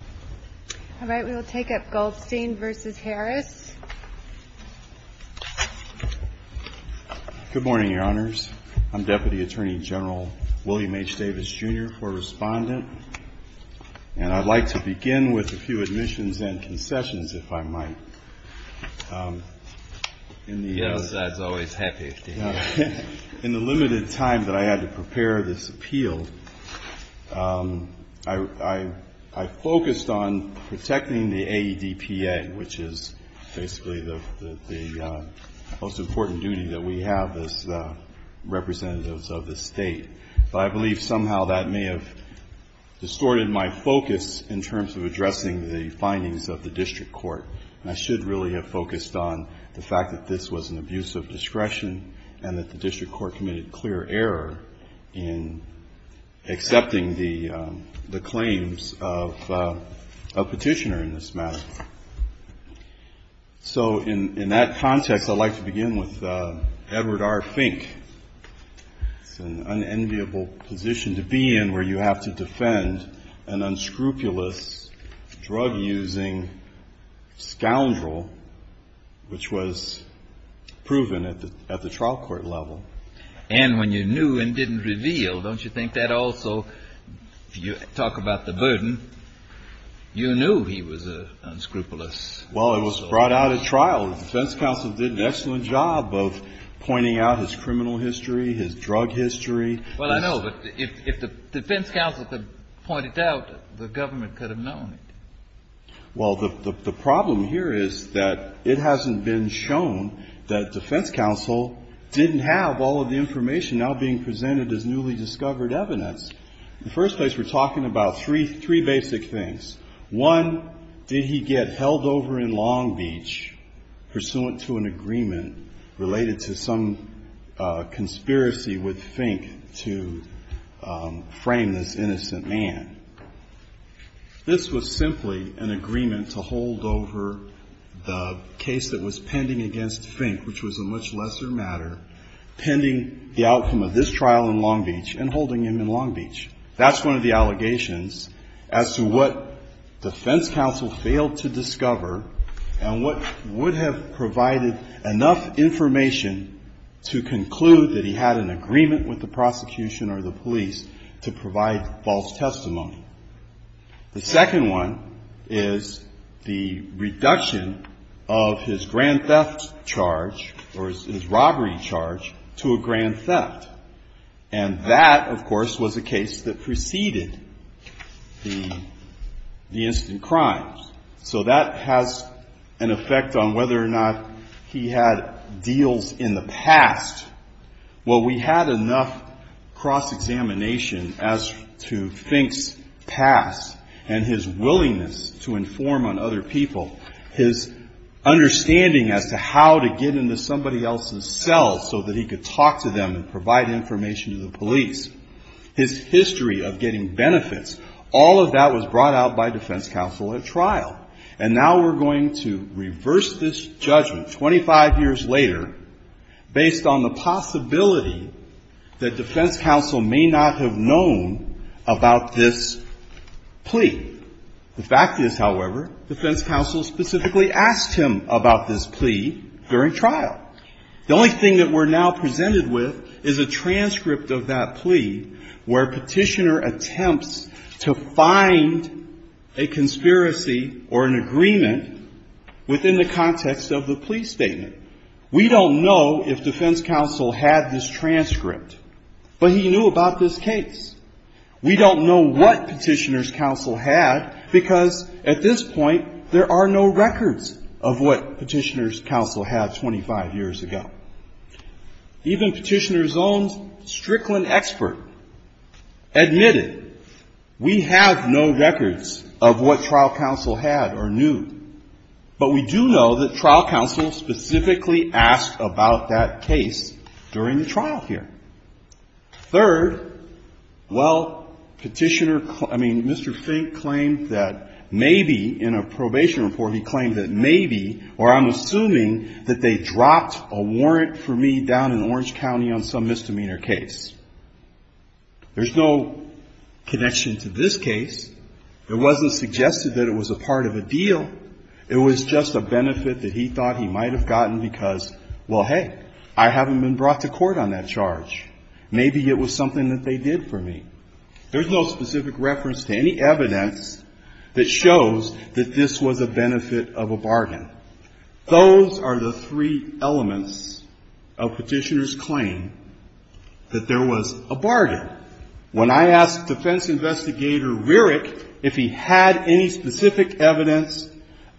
Good morning, Your Honors. I'm Deputy Attorney General William H. Davis, Jr. for Respondent. And I'd like to begin with a few admissions and concessions, if I might. The other side's always happy. In the limited time that I had to prepare this appeal, I focused on protecting the AEDPA, which is basically the most important duty that we have as representatives of the State. But I believe somehow that may have distorted my focus in terms of addressing the findings of the district court. And I should really have focused on the fact that this was an abuse of discretion and that the district court committed clear error in accepting the claims of a petitioner in this matter. So in that context, I'd like to begin with Edward R. Fink. It's an unenviable position to be in where you have to defend an unscrupulous drug-using scoundrel, which was proven at the trial court level. And when you knew and didn't reveal, don't you think that also, if you talk about the burden, you knew he was unscrupulous? Well, it was brought out at trial. The defense counsel did an excellent job of pointing out his criminal history, his drug history. Well, I know, but if the defense counsel could point it out, the government could have known it. Well, the problem here is that it hasn't been shown that defense counsel didn't have all of the information now being presented as newly discovered evidence. In the first place, we're talking about three basic things. One, did he get held over in Long Beach pursuant to an agreement related to some conspiracy with Fink to frame this innocent man? This was simply an agreement to hold over the case that was pending against Fink, which was a much lesser matter, pending the outcome of this trial in Long Beach and holding him in Long Beach. That's one of the allegations as to what defense counsel failed to discover and what would have provided enough information to conclude that he had an agreement with the prosecution or the police to provide false testimony. The second one is the reduction of his grand theft charge or his robbery charge to a grand theft. And that, of course, was a case that preceded the instant crimes. So that has an effect on whether or not he had deals in the past. Well, we had enough cross-examination as to Fink's past and his willingness to inform on other people, his understanding as to how to get into somebody else's cell so that he could talk to them and provide information to the police. His history of getting benefits, all of that was brought out by defense counsel at trial. And now we're going to reverse this judgment 25 years later based on the possibility that defense counsel may not have known about this plea. The fact is, however, defense counsel specifically asked him about this plea during trial. The only thing that we're now presented with is a transcript of that plea where Petitioner attempts to find a conspiracy or an agreement within the context of the plea statement. We don't know if defense counsel had this transcript, but he knew about this case. We don't know what Petitioner's counsel had because at this point there are no records of what Petitioner's counsel had 25 years ago. Even Petitioner's own Strickland expert admitted we have no records of what trial counsel had or knew. But we do know that trial counsel specifically asked about that case during the trial here. Third, well, Petitioner, I mean, Mr. Fink claimed that maybe in a probation report he claimed that maybe, or I'm assuming that they dropped a warrant for me down in Orange County on some misdemeanor case. There's no connection to this case. It wasn't suggested that it was a part of a deal. It was just a benefit that he thought he might have gotten because, well, hey, I haven't been brought to court on that charge. Maybe it was something that they did for me. There's no specific reference to any evidence that shows that this was a benefit of a bargain. Those are the three elements of Petitioner's claim that there was a bargain. When I asked defense investigator Rierich if he had any specific evidence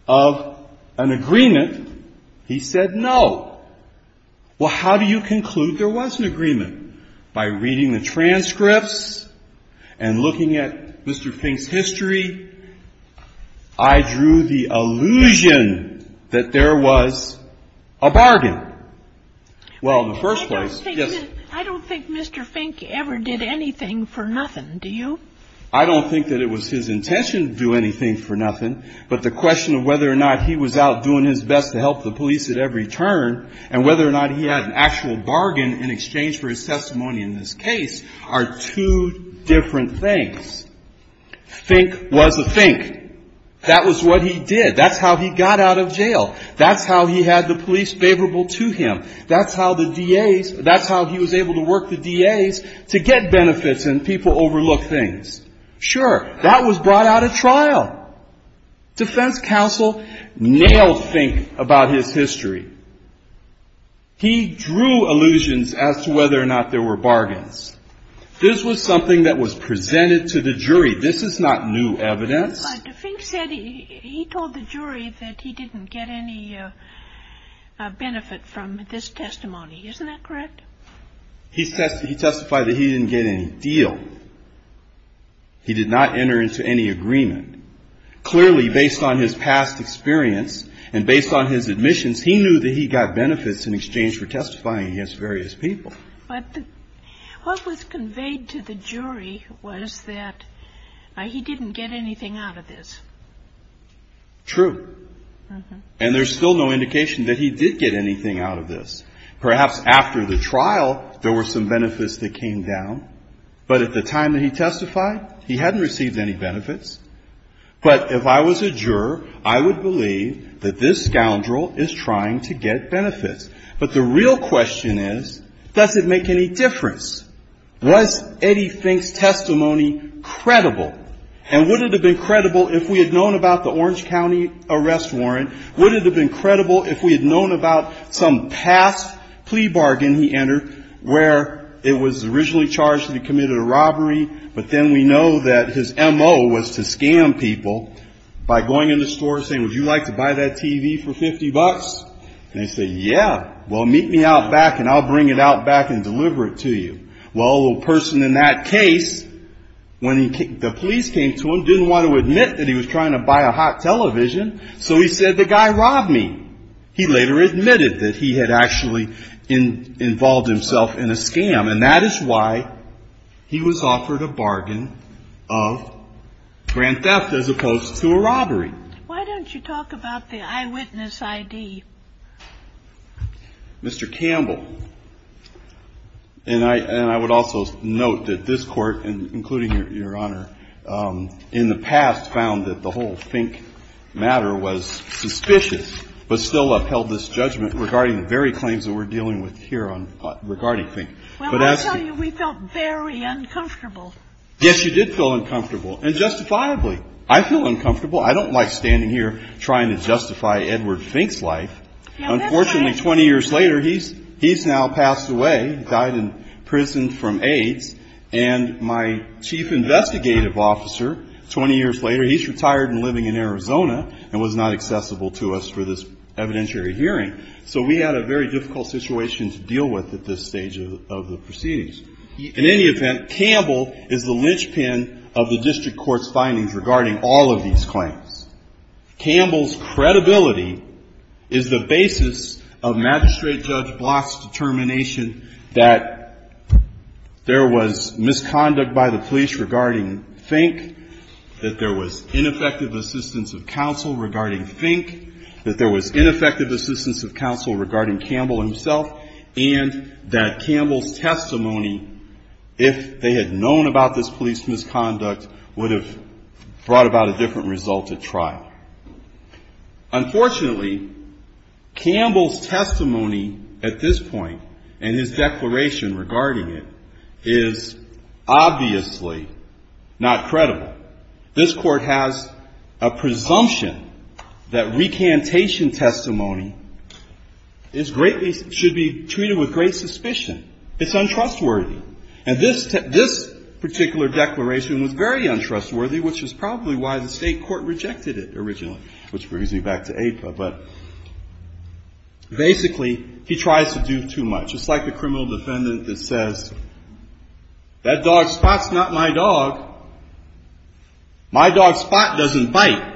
of an agreement, he said no. Well, how do you conclude there was an agreement? By reading the transcripts and looking at Mr. Fink's history, I drew the illusion that there was a bargain. Well, in the first place, yes. I don't think Mr. Fink ever did anything for nothing, do you? I don't think that it was his intention to do anything for nothing. But the question of whether or not he was out doing his best to help the police at every turn and whether or not he had an actual bargain in exchange for his testimony in this case are two different things. Fink was a Fink. That was what he did. That's how he got out of jail. That's how he had the police favorable to him. That's how the DAs – that's how he was able to work the DAs to get benefits and people overlook things. Sure, that was brought out at trial. Defense counsel nailed Fink about his history. He drew illusions as to whether or not there were bargains. This was something that was presented to the jury. This is not new evidence. But Fink said he told the jury that he didn't get any benefit from this testimony. Isn't that correct? He testified that he didn't get any deal. He did not enter into any agreement. Clearly, based on his past experience and based on his admissions, he knew that he got benefits in exchange for testifying against various people. But what was conveyed to the jury was that he didn't get anything out of this. True. And there's still no indication that he did get anything out of this. Perhaps after the trial, there were some benefits that came down. But at the time that he testified, he hadn't received any benefits. But if I was a juror, I would believe that this scoundrel is trying to get benefits. But the real question is, does it make any difference? Was Eddie Fink's testimony credible? And would it have been credible if we had known about the Orange County arrest warrant? Would it have been credible if we had known about some past plea bargain he entered where it was originally charged that he committed a robbery, but then we know that his M.O. was to scam people by going in the store and saying, would you like to buy that TV for 50 bucks? And they say, yeah, well, meet me out back and I'll bring it out back and deliver it to you. Well, the person in that case, when the police came to him, didn't want to admit that he was trying to buy a hot television. So he said, the guy robbed me. He later admitted that he had actually involved himself in a scam. And that is why he was offered a bargain of grand theft as opposed to a robbery. Why don't you talk about the eyewitness I.D.? Mr. Campbell. And I would also note that this Court, including Your Honor, in the past found that the whole Fink matter was suspicious, but still upheld this judgment regarding the very claims that we're dealing with here regarding Fink. Well, I tell you, we felt very uncomfortable. Yes, you did feel uncomfortable, and justifiably. I feel uncomfortable. I don't like standing here trying to justify Edward Fink's life. Unfortunately, 20 years later, he's now passed away, died in prison from AIDS, and my chief investigative officer, 20 years later, he's retired and living in Arizona and was not accessible to us for this evidentiary hearing. So we had a very difficult situation to deal with at this stage of the proceedings. In any event, Campbell is the linchpin of the district court's findings regarding all of these claims. Campbell's credibility is the basis of Magistrate Judge Block's determination that there was misconduct by the police regarding Fink, that there was ineffective assistance of counsel regarding Fink, that there was ineffective assistance of counsel regarding Campbell himself, and that Campbell's testimony, if they had known about this police misconduct, would have brought about a different result at trial. Unfortunately, Campbell's testimony at this point and his declaration regarding it is obviously not credible. This Court has a presumption that recantation testimony is greatly, should be treated with great suspicion. It's untrustworthy. And this particular declaration was very untrustworthy, which is probably why the state court rejected it originally, which brings me back to APA. But basically, he tries to do too much. It's like the criminal defendant that says, that dog Spot's not my dog. My dog Spot doesn't bite.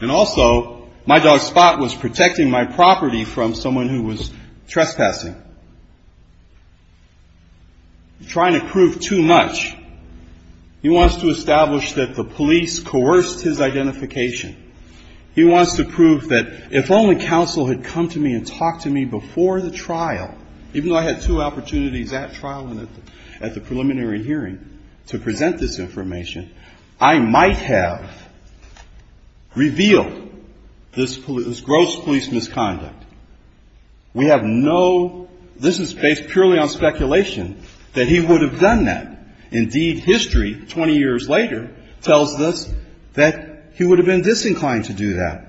And also, my dog Spot was protecting my property from someone who was trespassing. He's trying to prove too much. He wants to establish that the police coerced his identification. He wants to prove that if only counsel had come to me and talked to me before the trial, even though I had two opportunities at trial and at the preliminary hearing to present this information, I might have revealed this gross police misconduct. We have no, this is based purely on speculation, that he would have done that. Indeed, history, 20 years later, tells us that he would have been disinclined to do that.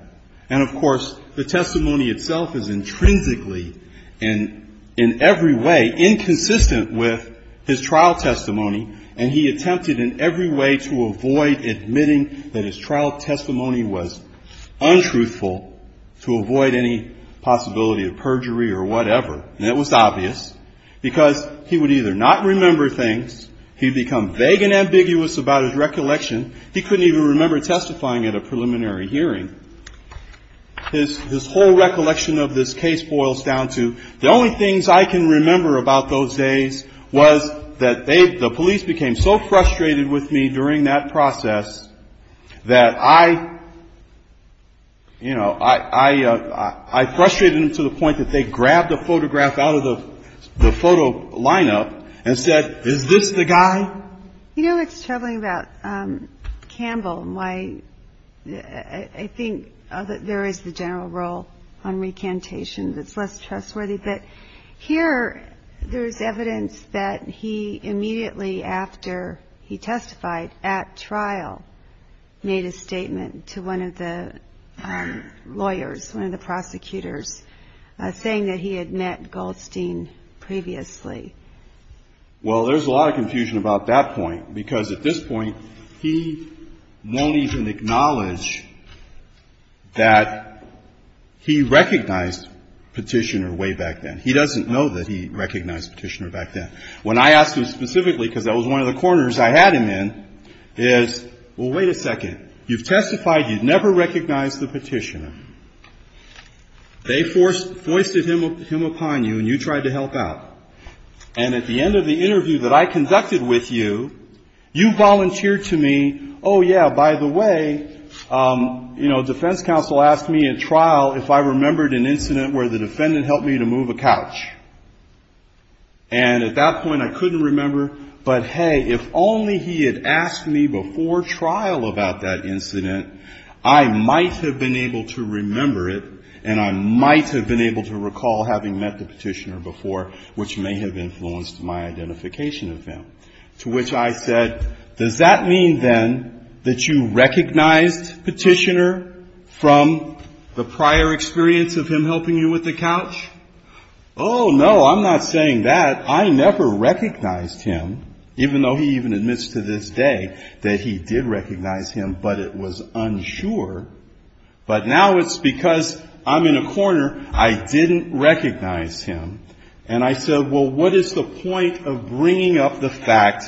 And, of course, the testimony itself is intrinsically and in every way inconsistent with his trial testimony, and he attempted in every way to avoid admitting that his trial testimony was untruthful to avoid any possibility of perjury or whatever. And it was obvious, because he would either not remember things, he'd become vague and ambiguous about his recollection, he couldn't even remember testifying at a preliminary hearing. His whole recollection of this case boils down to, the only things I can remember about those days was that they, the police became so frustrated with me during that process that I, you know, I frustrated them to the point that they grabbed a photograph out of the photo lineup and said, is this the guy? You know what's troubling about Campbell and why I think there is the general role on recantation that's less trustworthy, but here there's evidence that he immediately, after he testified at trial, made a statement to one of the lawyers, one of the prosecutors, saying that he had met Goldstein previously. Well, there's a lot of confusion about that point, because at this point, he won't even acknowledge that he recognized Petitioner way back then. He doesn't know that he recognized Petitioner back then. When I asked him specifically, because that was one of the corners I had him in, is, well, wait a second, you've testified, you've never recognized the Petitioner. They foisted him upon you and you tried to help out. And at the end of the interview that I conducted with you, you volunteered to me, oh, yeah, by the way, you know, defense counsel asked me at trial if I remembered an incident where the defendant helped me to move a couch. And at that point I couldn't remember, but, hey, if only he had asked me before trial about that incident, I might have been able to remember it and I might have been able to recall having met the Petitioner before, which may have influenced my identification of him. To which I said, does that mean, then, that you recognized Petitioner from the prior experience of him helping you with the couch? Oh, no, I'm not saying that. I never recognized him, even though he even admits to this day that he did recognize him, but it was unsure. But now it's because I'm in a corner, I didn't recognize him. And I said, well, what is the point of bringing up the fact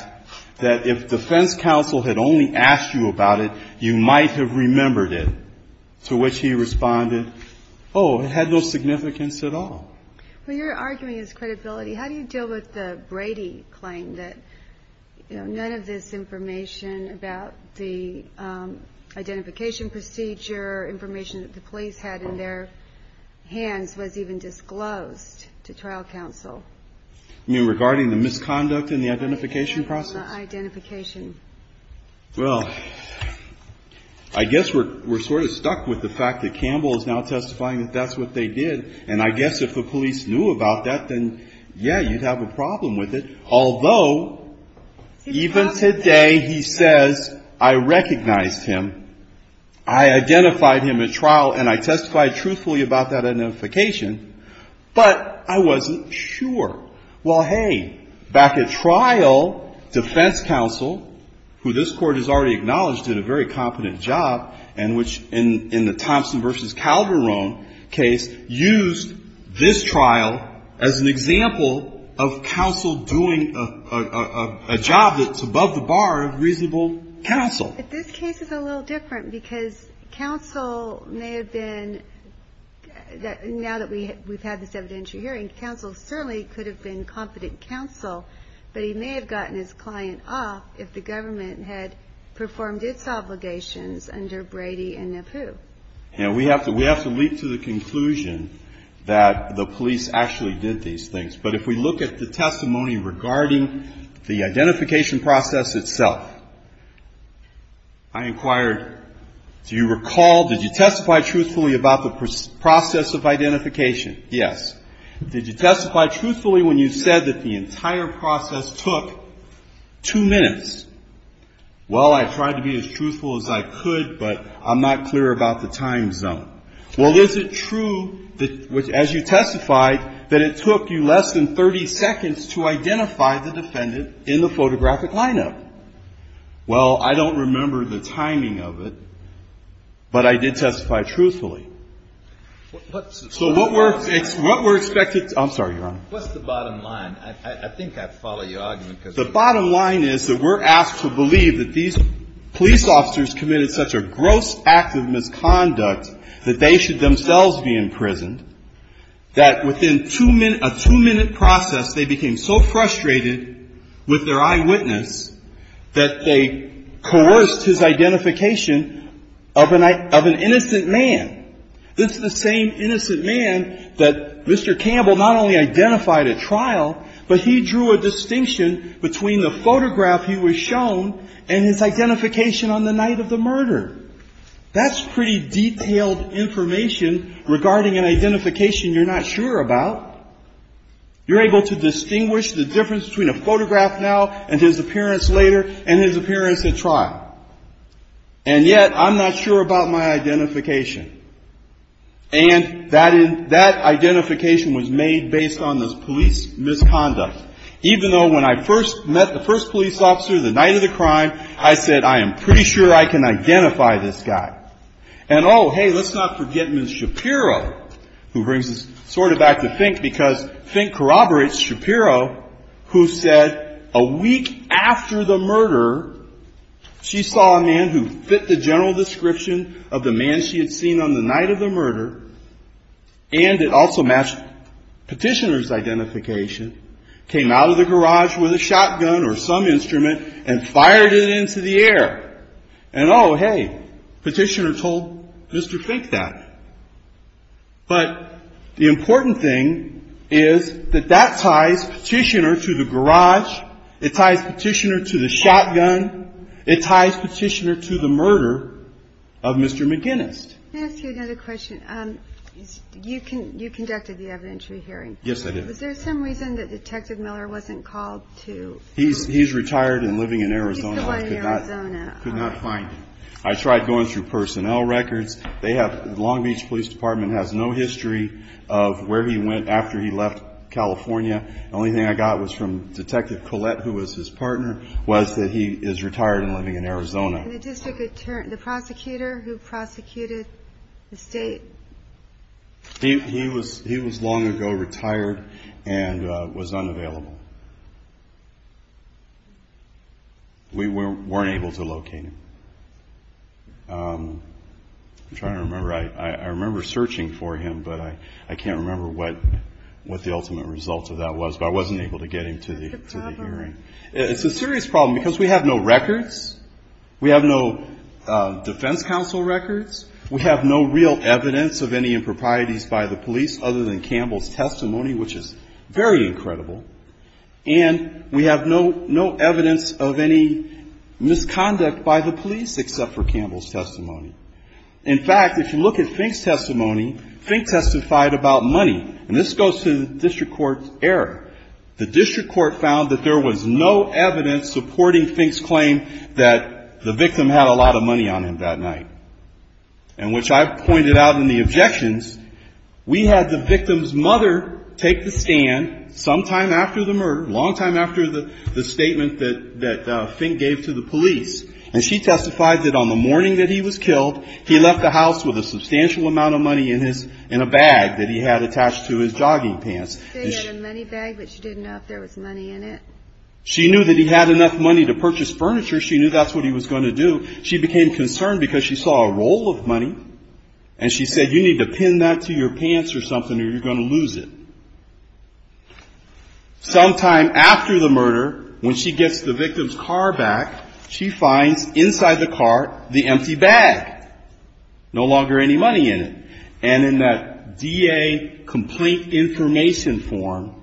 that if defense counsel had only asked you about it, you might have remembered it? To which he responded, oh, it had no significance at all. Well, you're arguing his credibility. How do you deal with the Brady claim that, you know, none of this information about the identification procedure, information that the police had in their hands, was even disclosed to trial counsel? You mean regarding the misconduct in the identification process? Identification. Well, I guess we're sort of stuck with the fact that Campbell is now testifying that that's what they did. And I guess if the police knew about that, then, yeah, you'd have a problem with it. Although, even today he says, I recognized him, I identified him at trial, and I testified truthfully about that identification, but I wasn't sure. Well, hey, back at trial, defense counsel, who this Court has already acknowledged did a very competent job, and which, in the Thompson v. Calderon case, used this trial as an example of counsel doing a job that's above the bar of reasonable counsel. But this case is a little different, because counsel may have been, now that we've had this evidentiary hearing, counsel certainly could have been competent counsel, but he may have gotten his client off if the government had performed its obligations under Brady and Napoo. And we have to leap to the conclusion that the police actually did these things. But if we look at the testimony regarding the identification process itself, I inquired, do you recall, did you testify truthfully about the process of identification? Yes. Did you testify truthfully when you said that the entire process took two minutes? Well, I tried to be as truthful as I could, but I'm not clear about the time zone. Well, is it true that, as you testified, that it took you less than 30 seconds to identify the defendant in the photographic lineup? Well, I don't remember the timing of it, but I did testify truthfully. So what we're expected to do, I'm sorry, Your Honor. What's the bottom line? I think I follow your argument. The bottom line is that we're asked to believe that these police officers committed such a gross act of misconduct that they should themselves be imprisoned, that within a two-minute process they became so frustrated with their eyewitness that they coerced his identification of an innocent man. This is the same innocent man that Mr. Campbell not only identified at trial, but he drew a distinction between the photograph he was shown and his identification on the night of the murder. That's pretty detailed information regarding an identification you're not sure about. You're able to distinguish the difference between a photograph now and his appearance later and his appearance at trial. And yet I'm not sure about my identification. And that identification was made based on this police misconduct, even though when I first met the first police officer the night of the crime, I said, I am pretty sure I can identify this guy. And, oh, hey, let's not forget Ms. Shapiro, who brings this sort of back to Fink, because Fink corroborates Shapiro, who said a week after the murder, she saw a man who fit the general description of the man she had seen on the night of the murder and it also matched Petitioner's identification, came out of the garage with a shotgun or some instrument and fired it into the air. And, oh, hey, Petitioner told Mr. Fink that. But the important thing is that that ties Petitioner to the garage, it ties Petitioner to the shotgun, it ties Petitioner to the murder of Mr. McGinnis. Let me ask you another question. You conducted the evidentiary hearing. Yes, I did. Was there some reason that Detective Miller wasn't called to? He's retired and living in Arizona. He's still in Arizona. I could not find him. I tried going through personnel records. The Long Beach Police Department has no history of where he went after he left California. The only thing I got was from Detective Collette, who was his partner, was that he is retired and living in Arizona. And the prosecutor who prosecuted the state? He was long ago retired and was unavailable. We weren't able to locate him. I'm trying to remember. I remember searching for him, but I can't remember what the ultimate result of that was. But I wasn't able to get him to the hearing. It's a serious problem because we have no records. We have no defense counsel records. We have no real evidence of any improprieties by the police other than Campbell's testimony, which is very incredible. And we have no evidence of any misconduct by the police except for Campbell's testimony. In fact, if you look at Fink's testimony, Fink testified about money. And this goes to the district court's error. The district court found that there was no evidence supporting Fink's claim that the victim had a lot of money on him that night, and which I've pointed out in the objections. We had the victim's mother take the stand sometime after the murder, long time after the statement that Fink gave to the police, and she testified that on the morning that he was killed, he left the house with a substantial amount of money in a bag that he had attached to his jogging pants. He had a money bag, but she didn't know if there was money in it. She knew that he had enough money to purchase furniture. She knew that's what he was going to do. She became concerned because she saw a roll of money, and she said, you need to pin that to your pants or something or you're going to lose it. Sometime after the murder, when she gets the victim's car back, she finds inside the car the empty bag. No longer any money in it. And in that DA complete information form,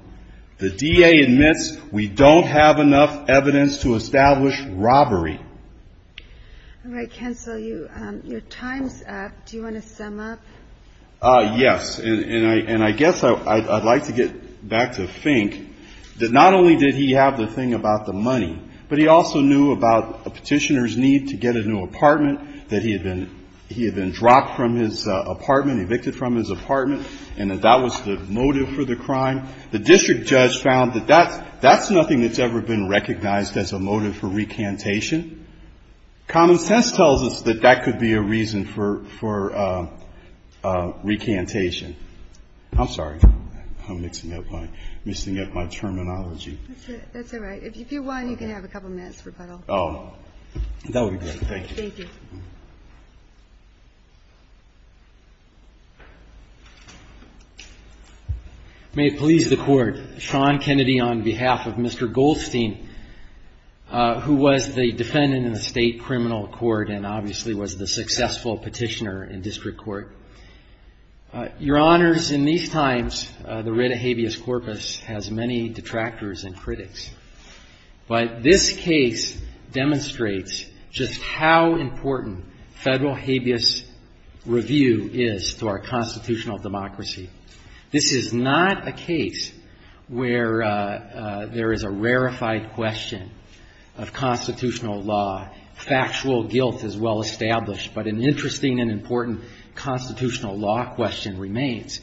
the DA admits we don't have enough evidence to establish robbery. All right, Ken, so your time's up. Do you want to sum up? Yes, and I guess I'd like to get back to Fink, that not only did he have the thing about the money, but he also knew about a petitioner's need to get a new apartment, that he had been dropped from his apartment, evicted from his apartment, and that that was the motive for the crime. The district judge found that that's nothing that's ever been recognized as a motive for recantation. Common sense tells us that that could be a reason for recantation. I'm sorry. I'm mixing up my terminology. That's all right. If you want, you can have a couple minutes, Repuddle. Oh, that would be great. Thank you. May it please the Court. Sean Kennedy on behalf of Mr. Goldstein, who was the defendant in the state criminal court and obviously was the successful petitioner in district court. Your Honors, in these times, the red habeas corpus has many detractors and critics, but this case demonstrates just how important federal habeas review is to our constitutional democracy. This is not a case where there is a rarefied question of constitutional law. Factual guilt is well established, but an interesting and important constitutional law question remains.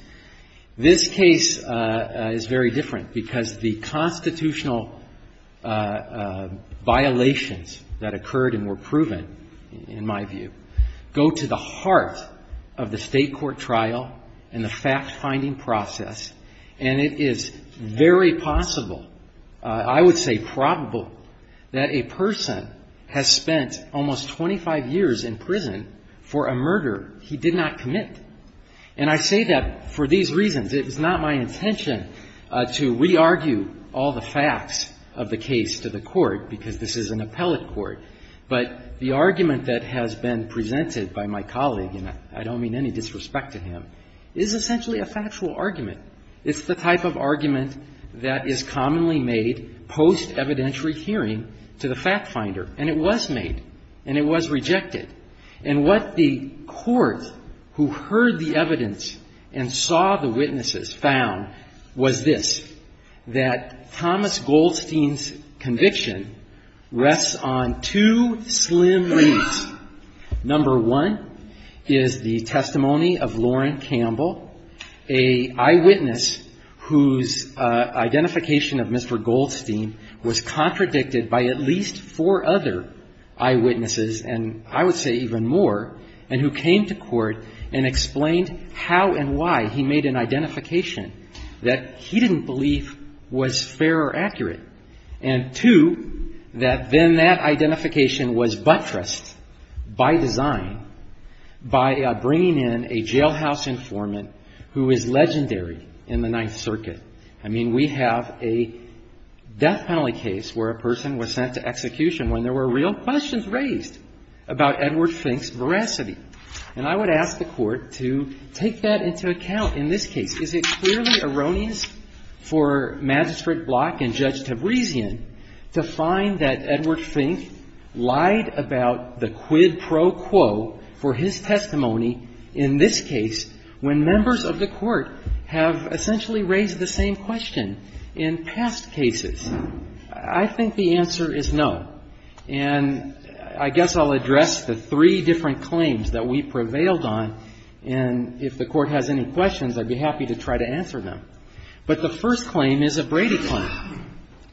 This case is very different because the constitutional violations that occurred and were proven, in my view, go to the heart of the state court trial and the fact-finding process, and it is very possible, I would say probable, that a person has spent almost 25 years in prison for a murder he did not commit. And I say that for these reasons. It was not my intention to re-argue all the facts of the case to the court, because this is an appellate court. But the argument that has been presented by my colleague, and I don't mean any disrespect to him, is essentially a factual argument. It's the type of argument that is commonly made post-evidentiary hearing to the fact-finder, and it was made, and it was rejected. And what the court who heard the evidence and saw the witnesses found was this, that Thomas Goldstein's conviction rests on two slim leads. Number one is the testimony of Lauren Campbell, an eyewitness whose identification of Mr. Goldstein was contradicted by at least four other eyewitnesses, and I would say even more, and who came to court and explained how and why he made an identification that he didn't believe was fair or accurate. And two, that then that identification was buttressed by design by bringing in a jailhouse informant who is legendary in the Ninth Circuit. I mean, we have a death penalty case where a person was sent to execution when there were real questions raised about Edward Fink's veracity. And I would ask the Court to take that into account in this case. Is it clearly erroneous for Magistrate Block and Judge Tabrisian to find that Edward Fink lied about the quid pro quo for his testimony in this case when members of the Court have essentially raised the same question in past cases? I think the answer is no. And I guess I'll address the three different claims that we prevailed on, and if the Court has any questions, I'd be happy to try to answer them. But the first claim is a Brady claim.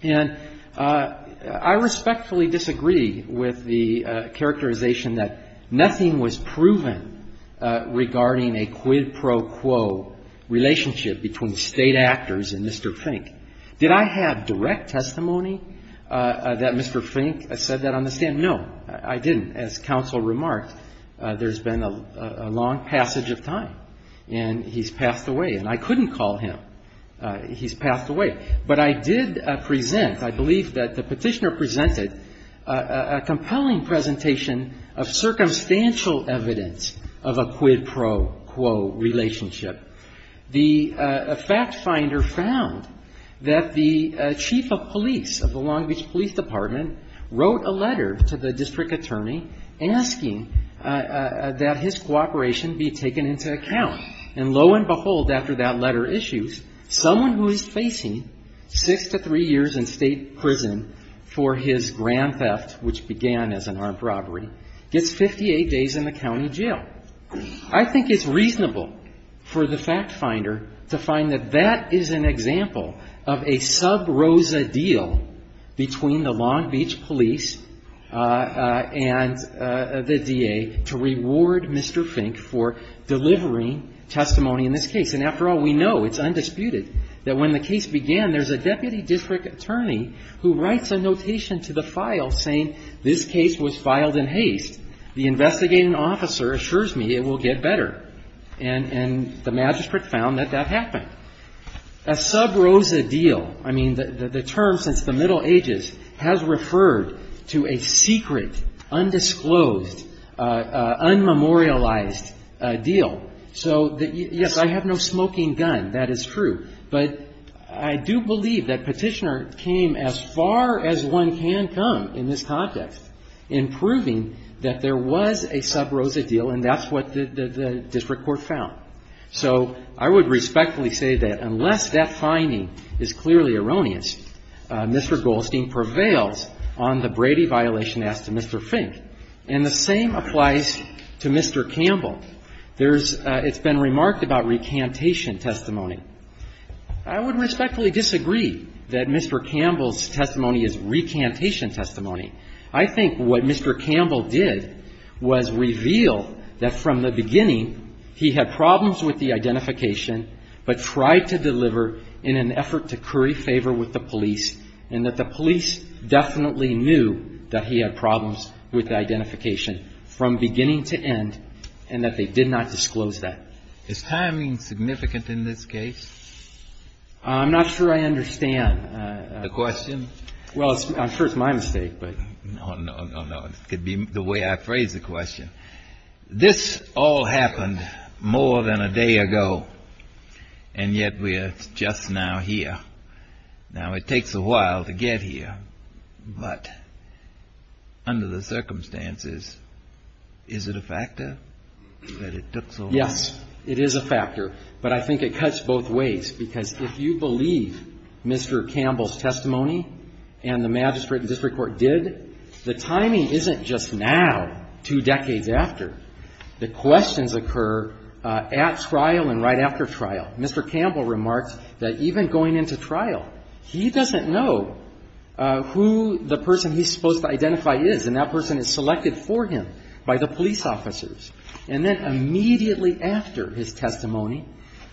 And I respectfully disagree with the characterization that nothing was proven regarding a quid pro quo relationship between State actors and Mr. Fink. Did I have direct testimony that Mr. Fink said that on the stand? No, I didn't. As counsel remarked, there's been a long passage of time, and he's passed away. And I couldn't call him. He's passed away. But I did present, I believe that the Petitioner presented, a compelling presentation of circumstantial evidence of a quid pro quo relationship. The fact finder found that the chief of police of the Long Beach Police Department wrote a letter to the district attorney asking that his cooperation be taken into account. And lo and behold, after that letter issues, someone who is facing six to three years in State prison for his grand theft, which began as an armed robbery, gets 58 days in the county jail. And the fact finder found that the chief of police of the Long Beach Police Department wrote a letter to the district attorney asking that his cooperation be taken into account. I think it's reasonable for the fact finder to find that that is an example of a sub rosa deal between the Long Beach Police and the DA to reward Mr. Fink for delivering testimony in this case. And after all, we know, it's undisputed, that when the case began, there's a deputy district attorney who writes a notation to the file saying this case was filed in haste. The investigating officer assures me it will get to the court. And I think that's a good example of a sub rosa deal. And it got better and the magistrate found that that happened. A sub rosa deal, I mean, the term since the Middle Ages has referred to a secret, undisclosed, unmemorialized deal. So yes, I have no smoking gun. That is true. But I do believe that Petitioner came as far as one can come in this context in proving that there was a sub rosa deal, and that's what the sub rosa deal is. I believe that the district court found. So I would respectfully say that unless that finding is clearly erroneous, Mr. Goldstein prevails on the Brady violation as to Mr. Fink. And the same applies to Mr. Campbell. There's been remarked about recantation testimony. I would respectfully disagree that Mr. Campbell's testimony is recantation testimony. I think what Mr. Campbell did was reveal that from the beginning he had problems with the identification, but tried to deliver in an effort to curry favor with the police, and that the police definitely knew that he had problems with the identification from beginning to end, and that they did not disclose that. Is timing significant in this case? I'm not sure I understand. The question? Well, I'm sure it's my mistake, but. No, no, no, no. It could be the way I phrase the question. This all happened more than a day ago, and yet we are just now here. Now, it takes a while to get here, but under the circumstances, is it a factor that it took so long? Yes, it is a factor. But I think it cuts both ways, because if you believe Mr. Campbell's testimony, it is a factor that it took so long. And the magistrate and district court did. The timing isn't just now, two decades after. The questions occur at trial and right after trial. Mr. Campbell remarks that even going into trial, he doesn't know who the person he's supposed to identify is, and that person is selected for him by the police officers. And then immediately after his testimony,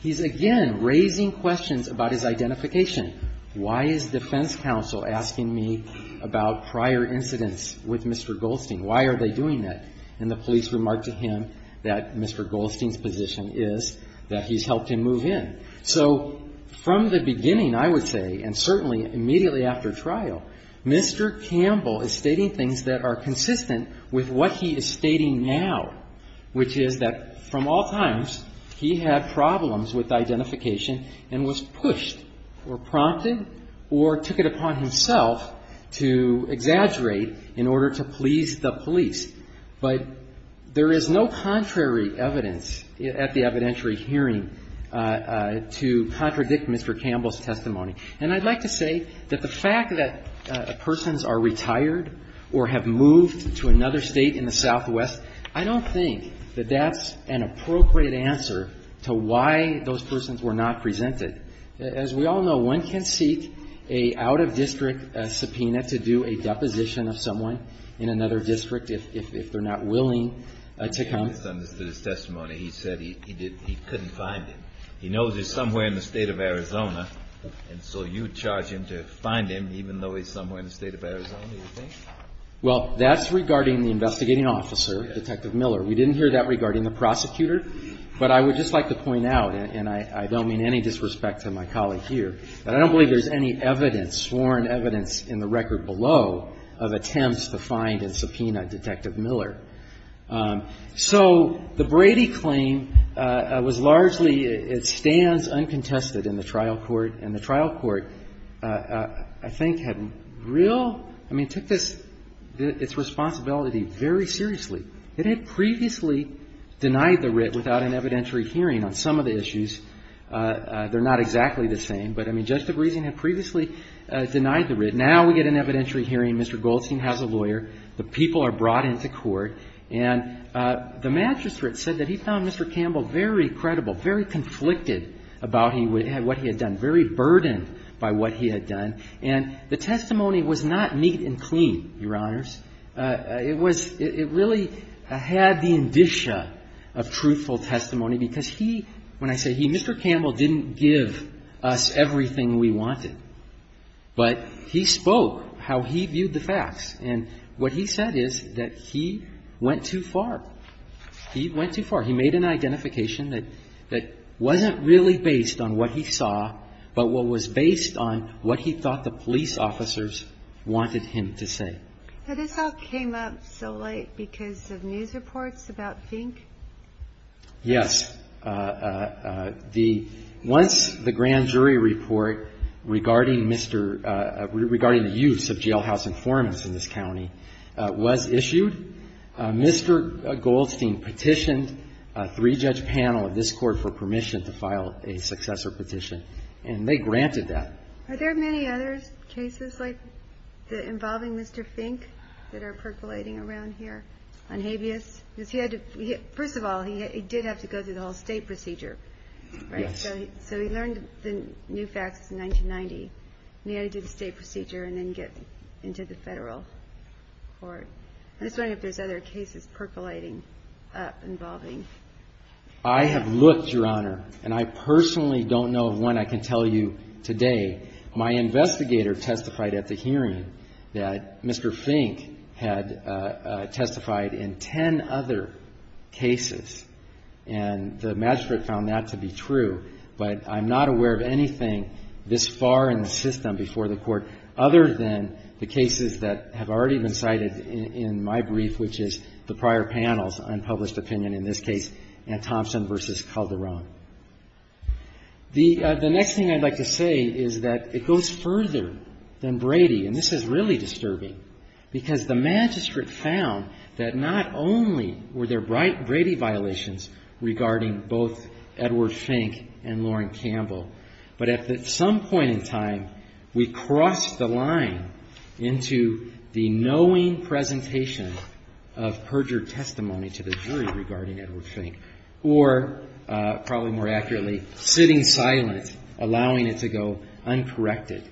he's again raising questions about his identification. Why is defense counsel asking me about prior incidents with Mr. Goldstein? Why are they doing that? And the police remark to him that Mr. Goldstein's position is that he's helped him move in. So from the beginning, I would say, and certainly immediately after trial, Mr. Campbell is stating things that are consistent with what he is stating now, which is that from all times, he had problems with identification and was pushed or pushed out of the case. He was either prompted or took it upon himself to exaggerate in order to please the police. But there is no contrary evidence at the evidentiary hearing to contradict Mr. Campbell's testimony. And I'd like to say that the fact that persons are retired or have moved to another state in the Southwest, I don't think that that's an appropriate answer to why those persons were not presented. As we all know, one case in which a person has moved to another state in the Southwest, they can seek a out-of-district subpoena to do a deposition of someone in another district if they're not willing to come. He said he couldn't find him. He knows he's somewhere in the state of Arizona, and so you charge him to find him even though he's somewhere in the state of Arizona, you think? Well, that's regarding the investigating officer, Detective Miller. We didn't hear that regarding the prosecutor. But I would just like to point out, and I don't mean any sort of conspiracy theory. I don't believe there's any evidence, sworn evidence in the record below, of attempts to find and subpoena Detective Miller. So the Brady claim was largely, it stands uncontested in the trial court. And the trial court, I think, had real, I mean, took this, its responsibility very seriously. It had previously denied the writ without an evidentiary hearing on some of the issues. They're not exactly the same, but, I mean, Justice Breeson had previously denied the writ. Now we get an evidentiary hearing. Mr. Goldstein has a lawyer. The people are brought into court. And the magistrate said that he found Mr. Campbell very credible, very conflicted about what he had done, very burdened by what he had done. And the testimony was not neat and clean, Your Honors. It was, it really had the indicia of truthful testimony, because he, when I say he, Mr. Campbell didn't give us everything we wanted. But he spoke how he viewed the facts. And what he said is that he went too far. He went too far. He made an identification that wasn't really based on what he saw, but what was based on what he thought the police officers wanted him to say. Now this all came up so late because of news reports about Fink? Yes. Once the grand jury report regarding the use of jailhouse informants in this county was issued, Mr. Goldstein petitioned a three-judge panel of this court for permission to file a successor petition. And they granted that. Are there many other cases like, involving Mr. Fink that are percolating around here on habeas? Because he had to, first of all, he did have to go through the whole state procedure, right? So he learned the new facts in 1990, and he had to do the state procedure and then get into the federal court. I'm just wondering if there's other cases percolating up, involving. I have looked, Your Honor, and I personally don't know of one I can tell you today. My investigator testified at the hearing that Mr. Fink had testified in ten other cases, and the magistrate found that to be true. But I'm not aware of anything this far in the system before the court, other than the cases that have already been cited in my brief, which is the prior panel's unpublished opinion in this case. And Thompson v. Calderon. The next thing I'd like to say is that it goes further than Brady, and this is really disturbing, because the magistrate found that not only were there Brady violations regarding both Edward Fink and Lauren Campbell, but at some point in time, we crossed the line into the knowing presentation of perjured testimony to the jury regarding Edward Fink. Or, probably more accurately, sitting silent, allowing it to go uncorrected.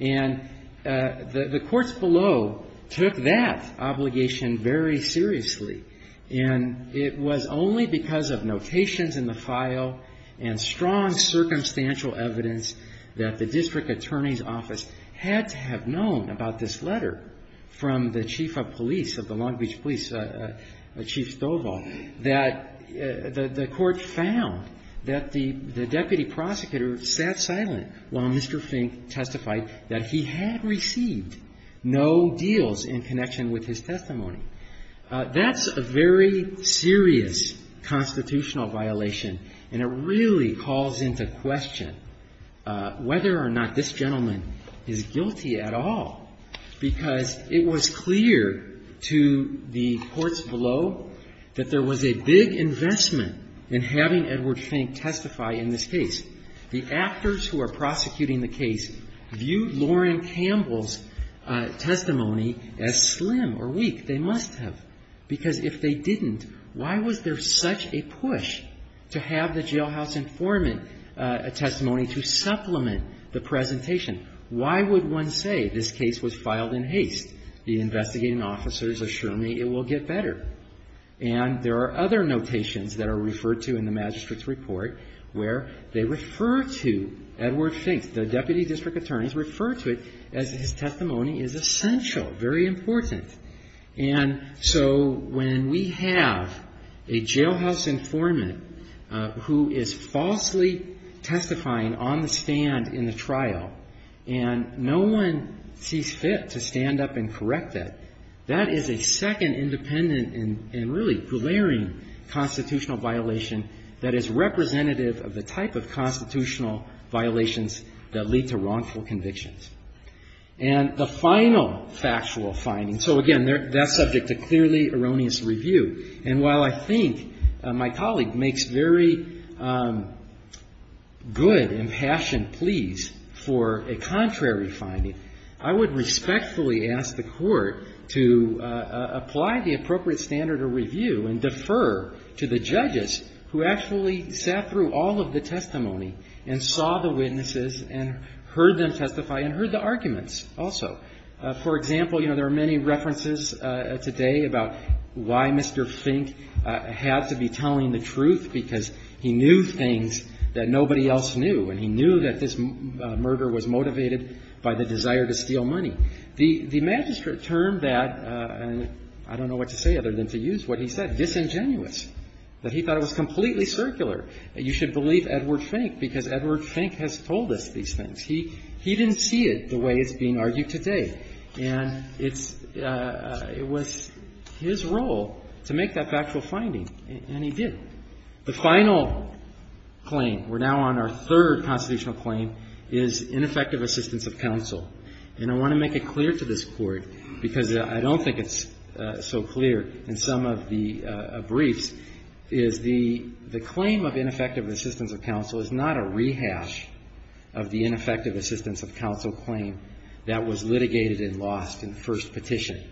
And the courts below took that obligation very seriously, and it was only because of notations in the file and strong circumstantial evidence that the district attorney's office had to have known about this letter from the chief of police of the Long Beach Police, Chief Stovall, that the court found that the deputy prosecutor sat silent while Mr. Fink testified that he had received no deals in connection with his testimony. That's a very serious constitutional violation, and it really calls into question whether or not this gentleman is guilty at all, because it was clear to the courts below that there was a big investment in this case, and there was a big investment in having Edward Fink testify in this case. The actors who are prosecuting the case view Lauren Campbell's testimony as slim or weak. They must have. Because if they didn't, why was there such a push to have the jailhouse informant a testimony to supplement the presentation? Why would one say this case was filed in haste? The investigating officers assure me it will get better. And there are other notations that are referred to in the magistrate's report where they refer to Edward Fink, the deputy district attorney's, refer to it as his testimony is essential, very important. And so when we have a jailhouse informant who is falsely testifying on the stand in the trial, and no one sees fit to stand up and testify, that is a second independent and really glaring constitutional violation that is representative of the type of constitutional violations that lead to wrongful convictions. And the final factual finding, so again, that's subject to clearly erroneous review. And while I think my colleague makes very good and passionate pleas for a contrary finding, I would respectfully ask the Court to apply the appropriate standard of review and defer to the judges who actually sat through all of the testimony and saw the witnesses and heard them testify and heard the arguments also. For example, you know, there are many references today about why Mr. Fink had to be telling the truth, because he knew things that nobody else knew. And he knew that this murder was motivated by the desire to steal money. The magistrate termed that, and I don't know what to say other than to use what he said, disingenuous, that he thought it was completely circular, that you should believe Edward Fink, because Edward Fink has told us these things. He didn't see it the way it's being argued today. And it's his role to make that factual finding, and he did. The final claim, we're now on our third constitutional claim, which is that Edward Fink's testimony was disingenuous. The final claim is ineffective assistance of counsel. And I want to make it clear to this Court, because I don't think it's so clear in some of the briefs, is the claim of ineffective assistance of counsel is not a rehash of the ineffective assistance of counsel claim that was litigated and lost in the first petition.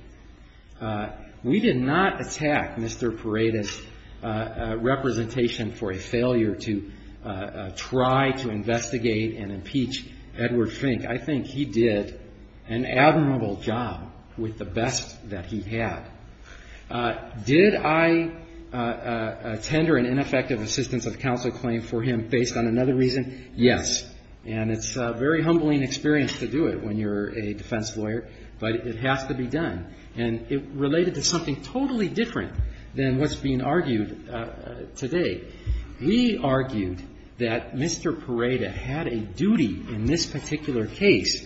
We did not attack Mr. Paredes' representation for a defense lawyer and impeach Edward Fink. I think he did an admirable job with the best that he had. Did I tender an ineffective assistance of counsel claim for him based on another reason? Yes. And it's a very humbling experience to do it when you're a defense lawyer, but it has to be done. And it related to something totally different than what's being argued today. We argued that Mr. Paredes had a duty in this particular case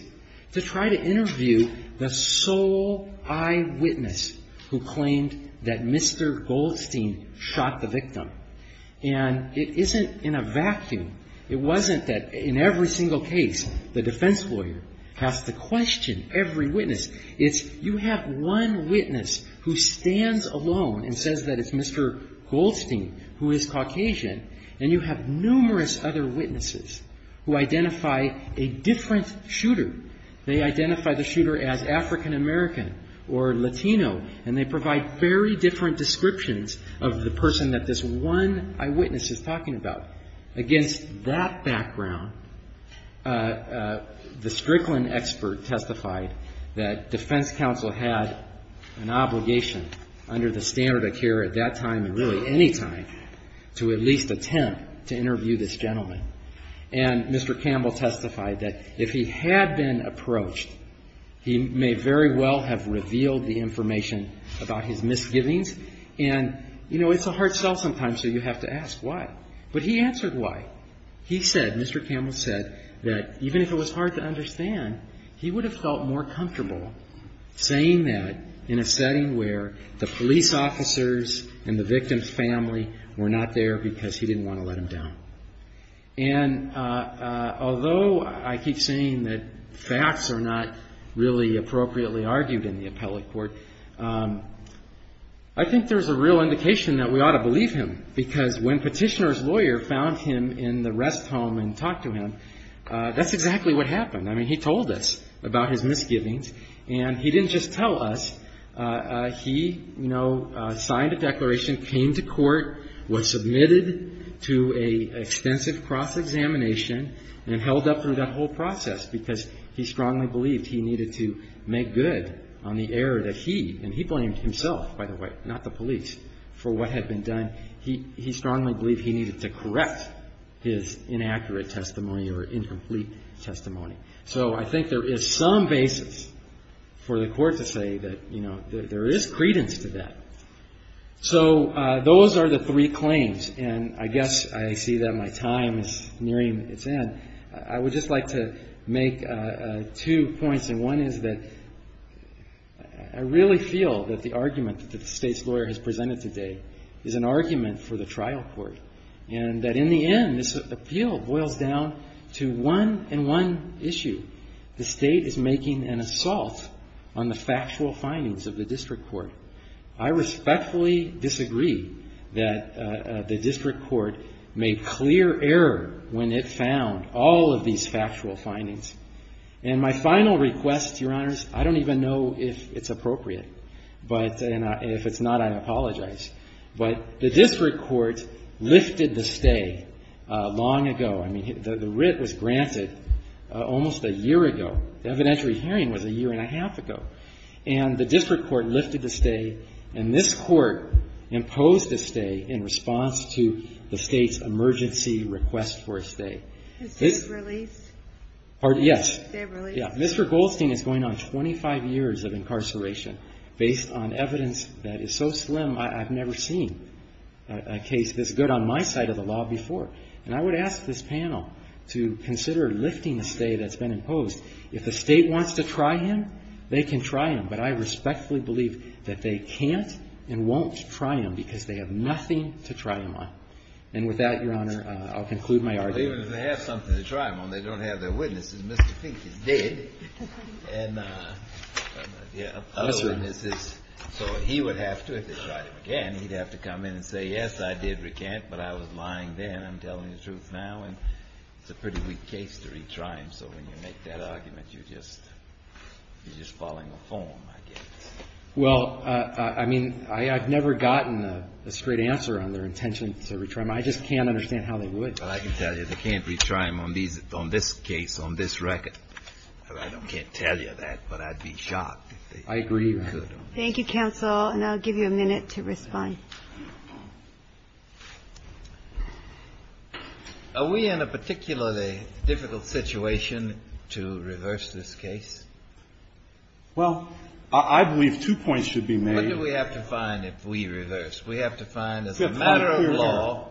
to try to interview the sole eyewitness who claimed that Mr. Goldstein shot the victim. And it isn't in a vacuum. It wasn't that in every single case, the defense lawyer has to question every witness. It's you have one witness who stands alone and says that it's Mr. Goldstein who is Caucasian, and you have numerous other witnesses who identify a different shooter. They identify the shooter as African American or Latino, and they provide very different descriptions of the person that this one eyewitness is talking about. Against that background, the Strickland expert testified that defense counsel had an obligation under the standard of care at that time and really any time to at least attempt to interview this gentleman. And Mr. Campbell testified that if he had been approached, he may very well have revealed the information about his misgivings. And, you know, it's a hard sell sometimes, so you have to ask why. But he answered why. He said, Mr. Campbell said, that even if it was hard to understand, he would have felt more comfortable saying that in a setting where the police officers and the victim's family were not there because they were trying to get information because he didn't want to let him down. And although I keep saying that facts are not really appropriately argued in the appellate court, I think there's a real indication that we ought to believe him, because when Petitioner's lawyer found him in the rest home and talked to him, that's exactly what happened. I mean, he told us about his misgivings, and he didn't just tell us. He, you know, admitted to an extensive cross-examination and held up through that whole process because he strongly believed he needed to make good on the error that he, and he blamed himself, by the way, not the police, for what had been done. He strongly believed he needed to correct his inaccurate testimony or incomplete testimony. So I think there is some basis for the court to say that, you know, there is credence to that. So those are the three claims, and I guess I see that my time is nearing its end. I would just like to make two points, and one is that I really feel that the argument that the State's lawyer has presented today is an argument for the trial court, and that in the end, this appeal boils down to one and one issue. The State is making an assault on the factual findings of the district court. I respectfully disagree that the district court made clear error when it found all of these factual findings. And my final request, Your Honors, I don't even know if it's appropriate. But if it's not, I apologize. But the district court lifted the stay long ago. I mean, the writ was granted almost a year ago. The evidentiary hearing was a year and a half ago. And the district court lifted the stay, and this court imposed a stay in response to the State's emergency request for a stay. MS. GOLDSTEIN. Is this release? MR. GOLDSTEIN. Pardon? Yes. MS. GOLDSTEIN. Is this release? MR. GOLDSTEIN. Yeah. Mr. Goldstein is going on 25 years of incarceration based on evidence that is so slim, I've never seen a case this good on my side of the law before. And I would ask this panel to consider lifting a stay that's been imposed. If the State wants to try him, they can try him. But I respectfully believe that they can't and won't try him, because they have nothing to try him on. And with that, Your Honor, I'll conclude my argument. JUSTICE KENNEDY. Well, even if they have something to try him on, they don't have their witnesses. Mr. Fink is dead. And, yeah. MR. GOLDSTEIN. Yes, sir. JUSTICE KENNEDY. So he would have to, if they tried him again, he'd have to come in and say, yes, I did recant, but I was lying then, I'm telling the truth now. And it's a pretty weak case to retry him. So when you make that argument, you're just following a form, I guess. MR. GOLDSTEIN. Well, I mean, I've never gotten a straight answer on their intention to retry him. I just can't understand how they would. JUSTICE BREYER. Well, I can tell you they can't retry him on this case, on this record. I can't tell you that, but I'd be shocked if they could. MR. GOLDSTEIN. I agree with you. JUSTICE KENNEDY. Are we in a particularly difficult situation to reverse this case? MR. GOLDSTEIN. Well, I believe two points should be made. JUSTICE KENNEDY. What do we have to find if we reverse? We have to find as a matter of law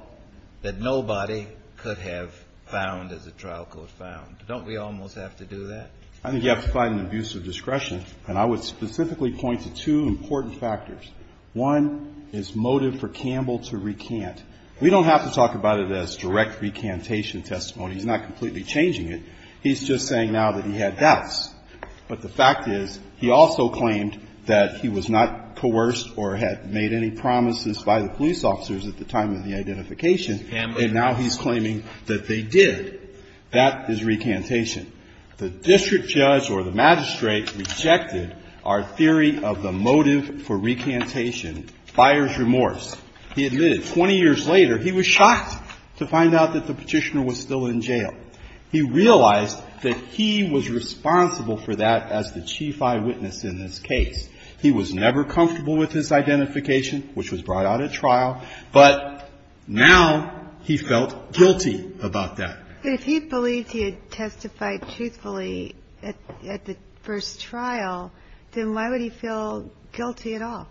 that nobody could have found as a trial code found. Don't we almost have to do that? MR. GOLDSTEIN. I think you have to find an abuse of discretion. And I would specifically point to two important factors. One is motive for Campbell to recant. We don't have to talk about it as direct recantation testimony. He's not completely changing it. He's just saying now that he had doubts. But the fact is, he also claimed that he was not coerced or had made any promises by the police officers at the time of the identification, and now he's claiming that they did. That is recantation. The district judge or the magistrate rejected our theory of the motive for recantation, buyer's remorse. He admitted 20 years later he was shocked to find out that the Petitioner was still in jail. He realized that he was responsible for that as the chief eyewitness in this case. He was never comfortable with his identification, which was brought out at trial, but now he felt guilty about that. JUSTICE GINSBURG If he believed he had testified truthfully at the first trial, then why would he feel guilty at all?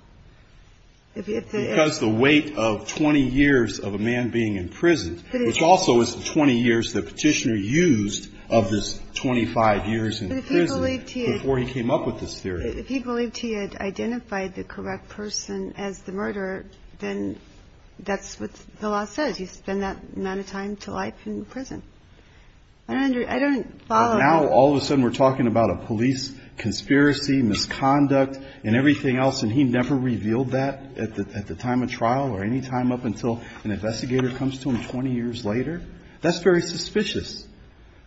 Because the weight of 20 years of a man being in prison, which also is the 20 years the Petitioner used of his 25 years in prison before he came up with this theory. If he believed he had identified the correct person as the murderer, then that's what the law says. You spend that amount of time to life in prison. Now, all of a sudden, we're talking about a police conspiracy, misconduct, and everything else, and he never revealed that. At the time of trial or any time up until an investigator comes to him 20 years later, that's very suspicious.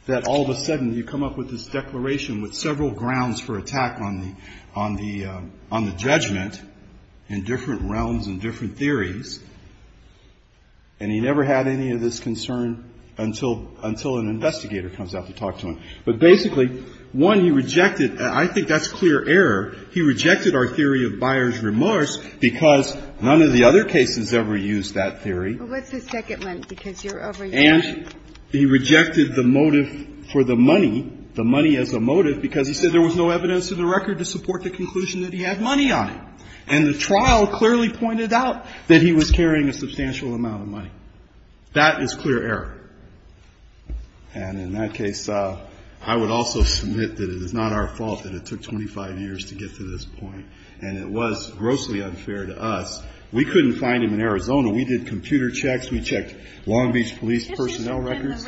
That all of a sudden you come up with this declaration with several grounds for attack on the judgment in different realms and different theories, and he never had any of this concern until an investigator comes out to talk to him. But basically, one, he rejected, and I think that's clear error, he rejected our theory of buyer's remorse. Because none of the other cases ever used that theory. And he rejected the motive for the money, the money as a motive, because he said there was no evidence to the record to support the conclusion that he had money on him. And the trial clearly pointed out that he was carrying a substantial amount of money. That is clear error. And in that case, I would also submit that it is not our fault that it took 25 years to get to this point. And it was grossly unfair to us. We couldn't find him in Arizona. We did computer checks. We checked Long Beach police personnel records. Thank you.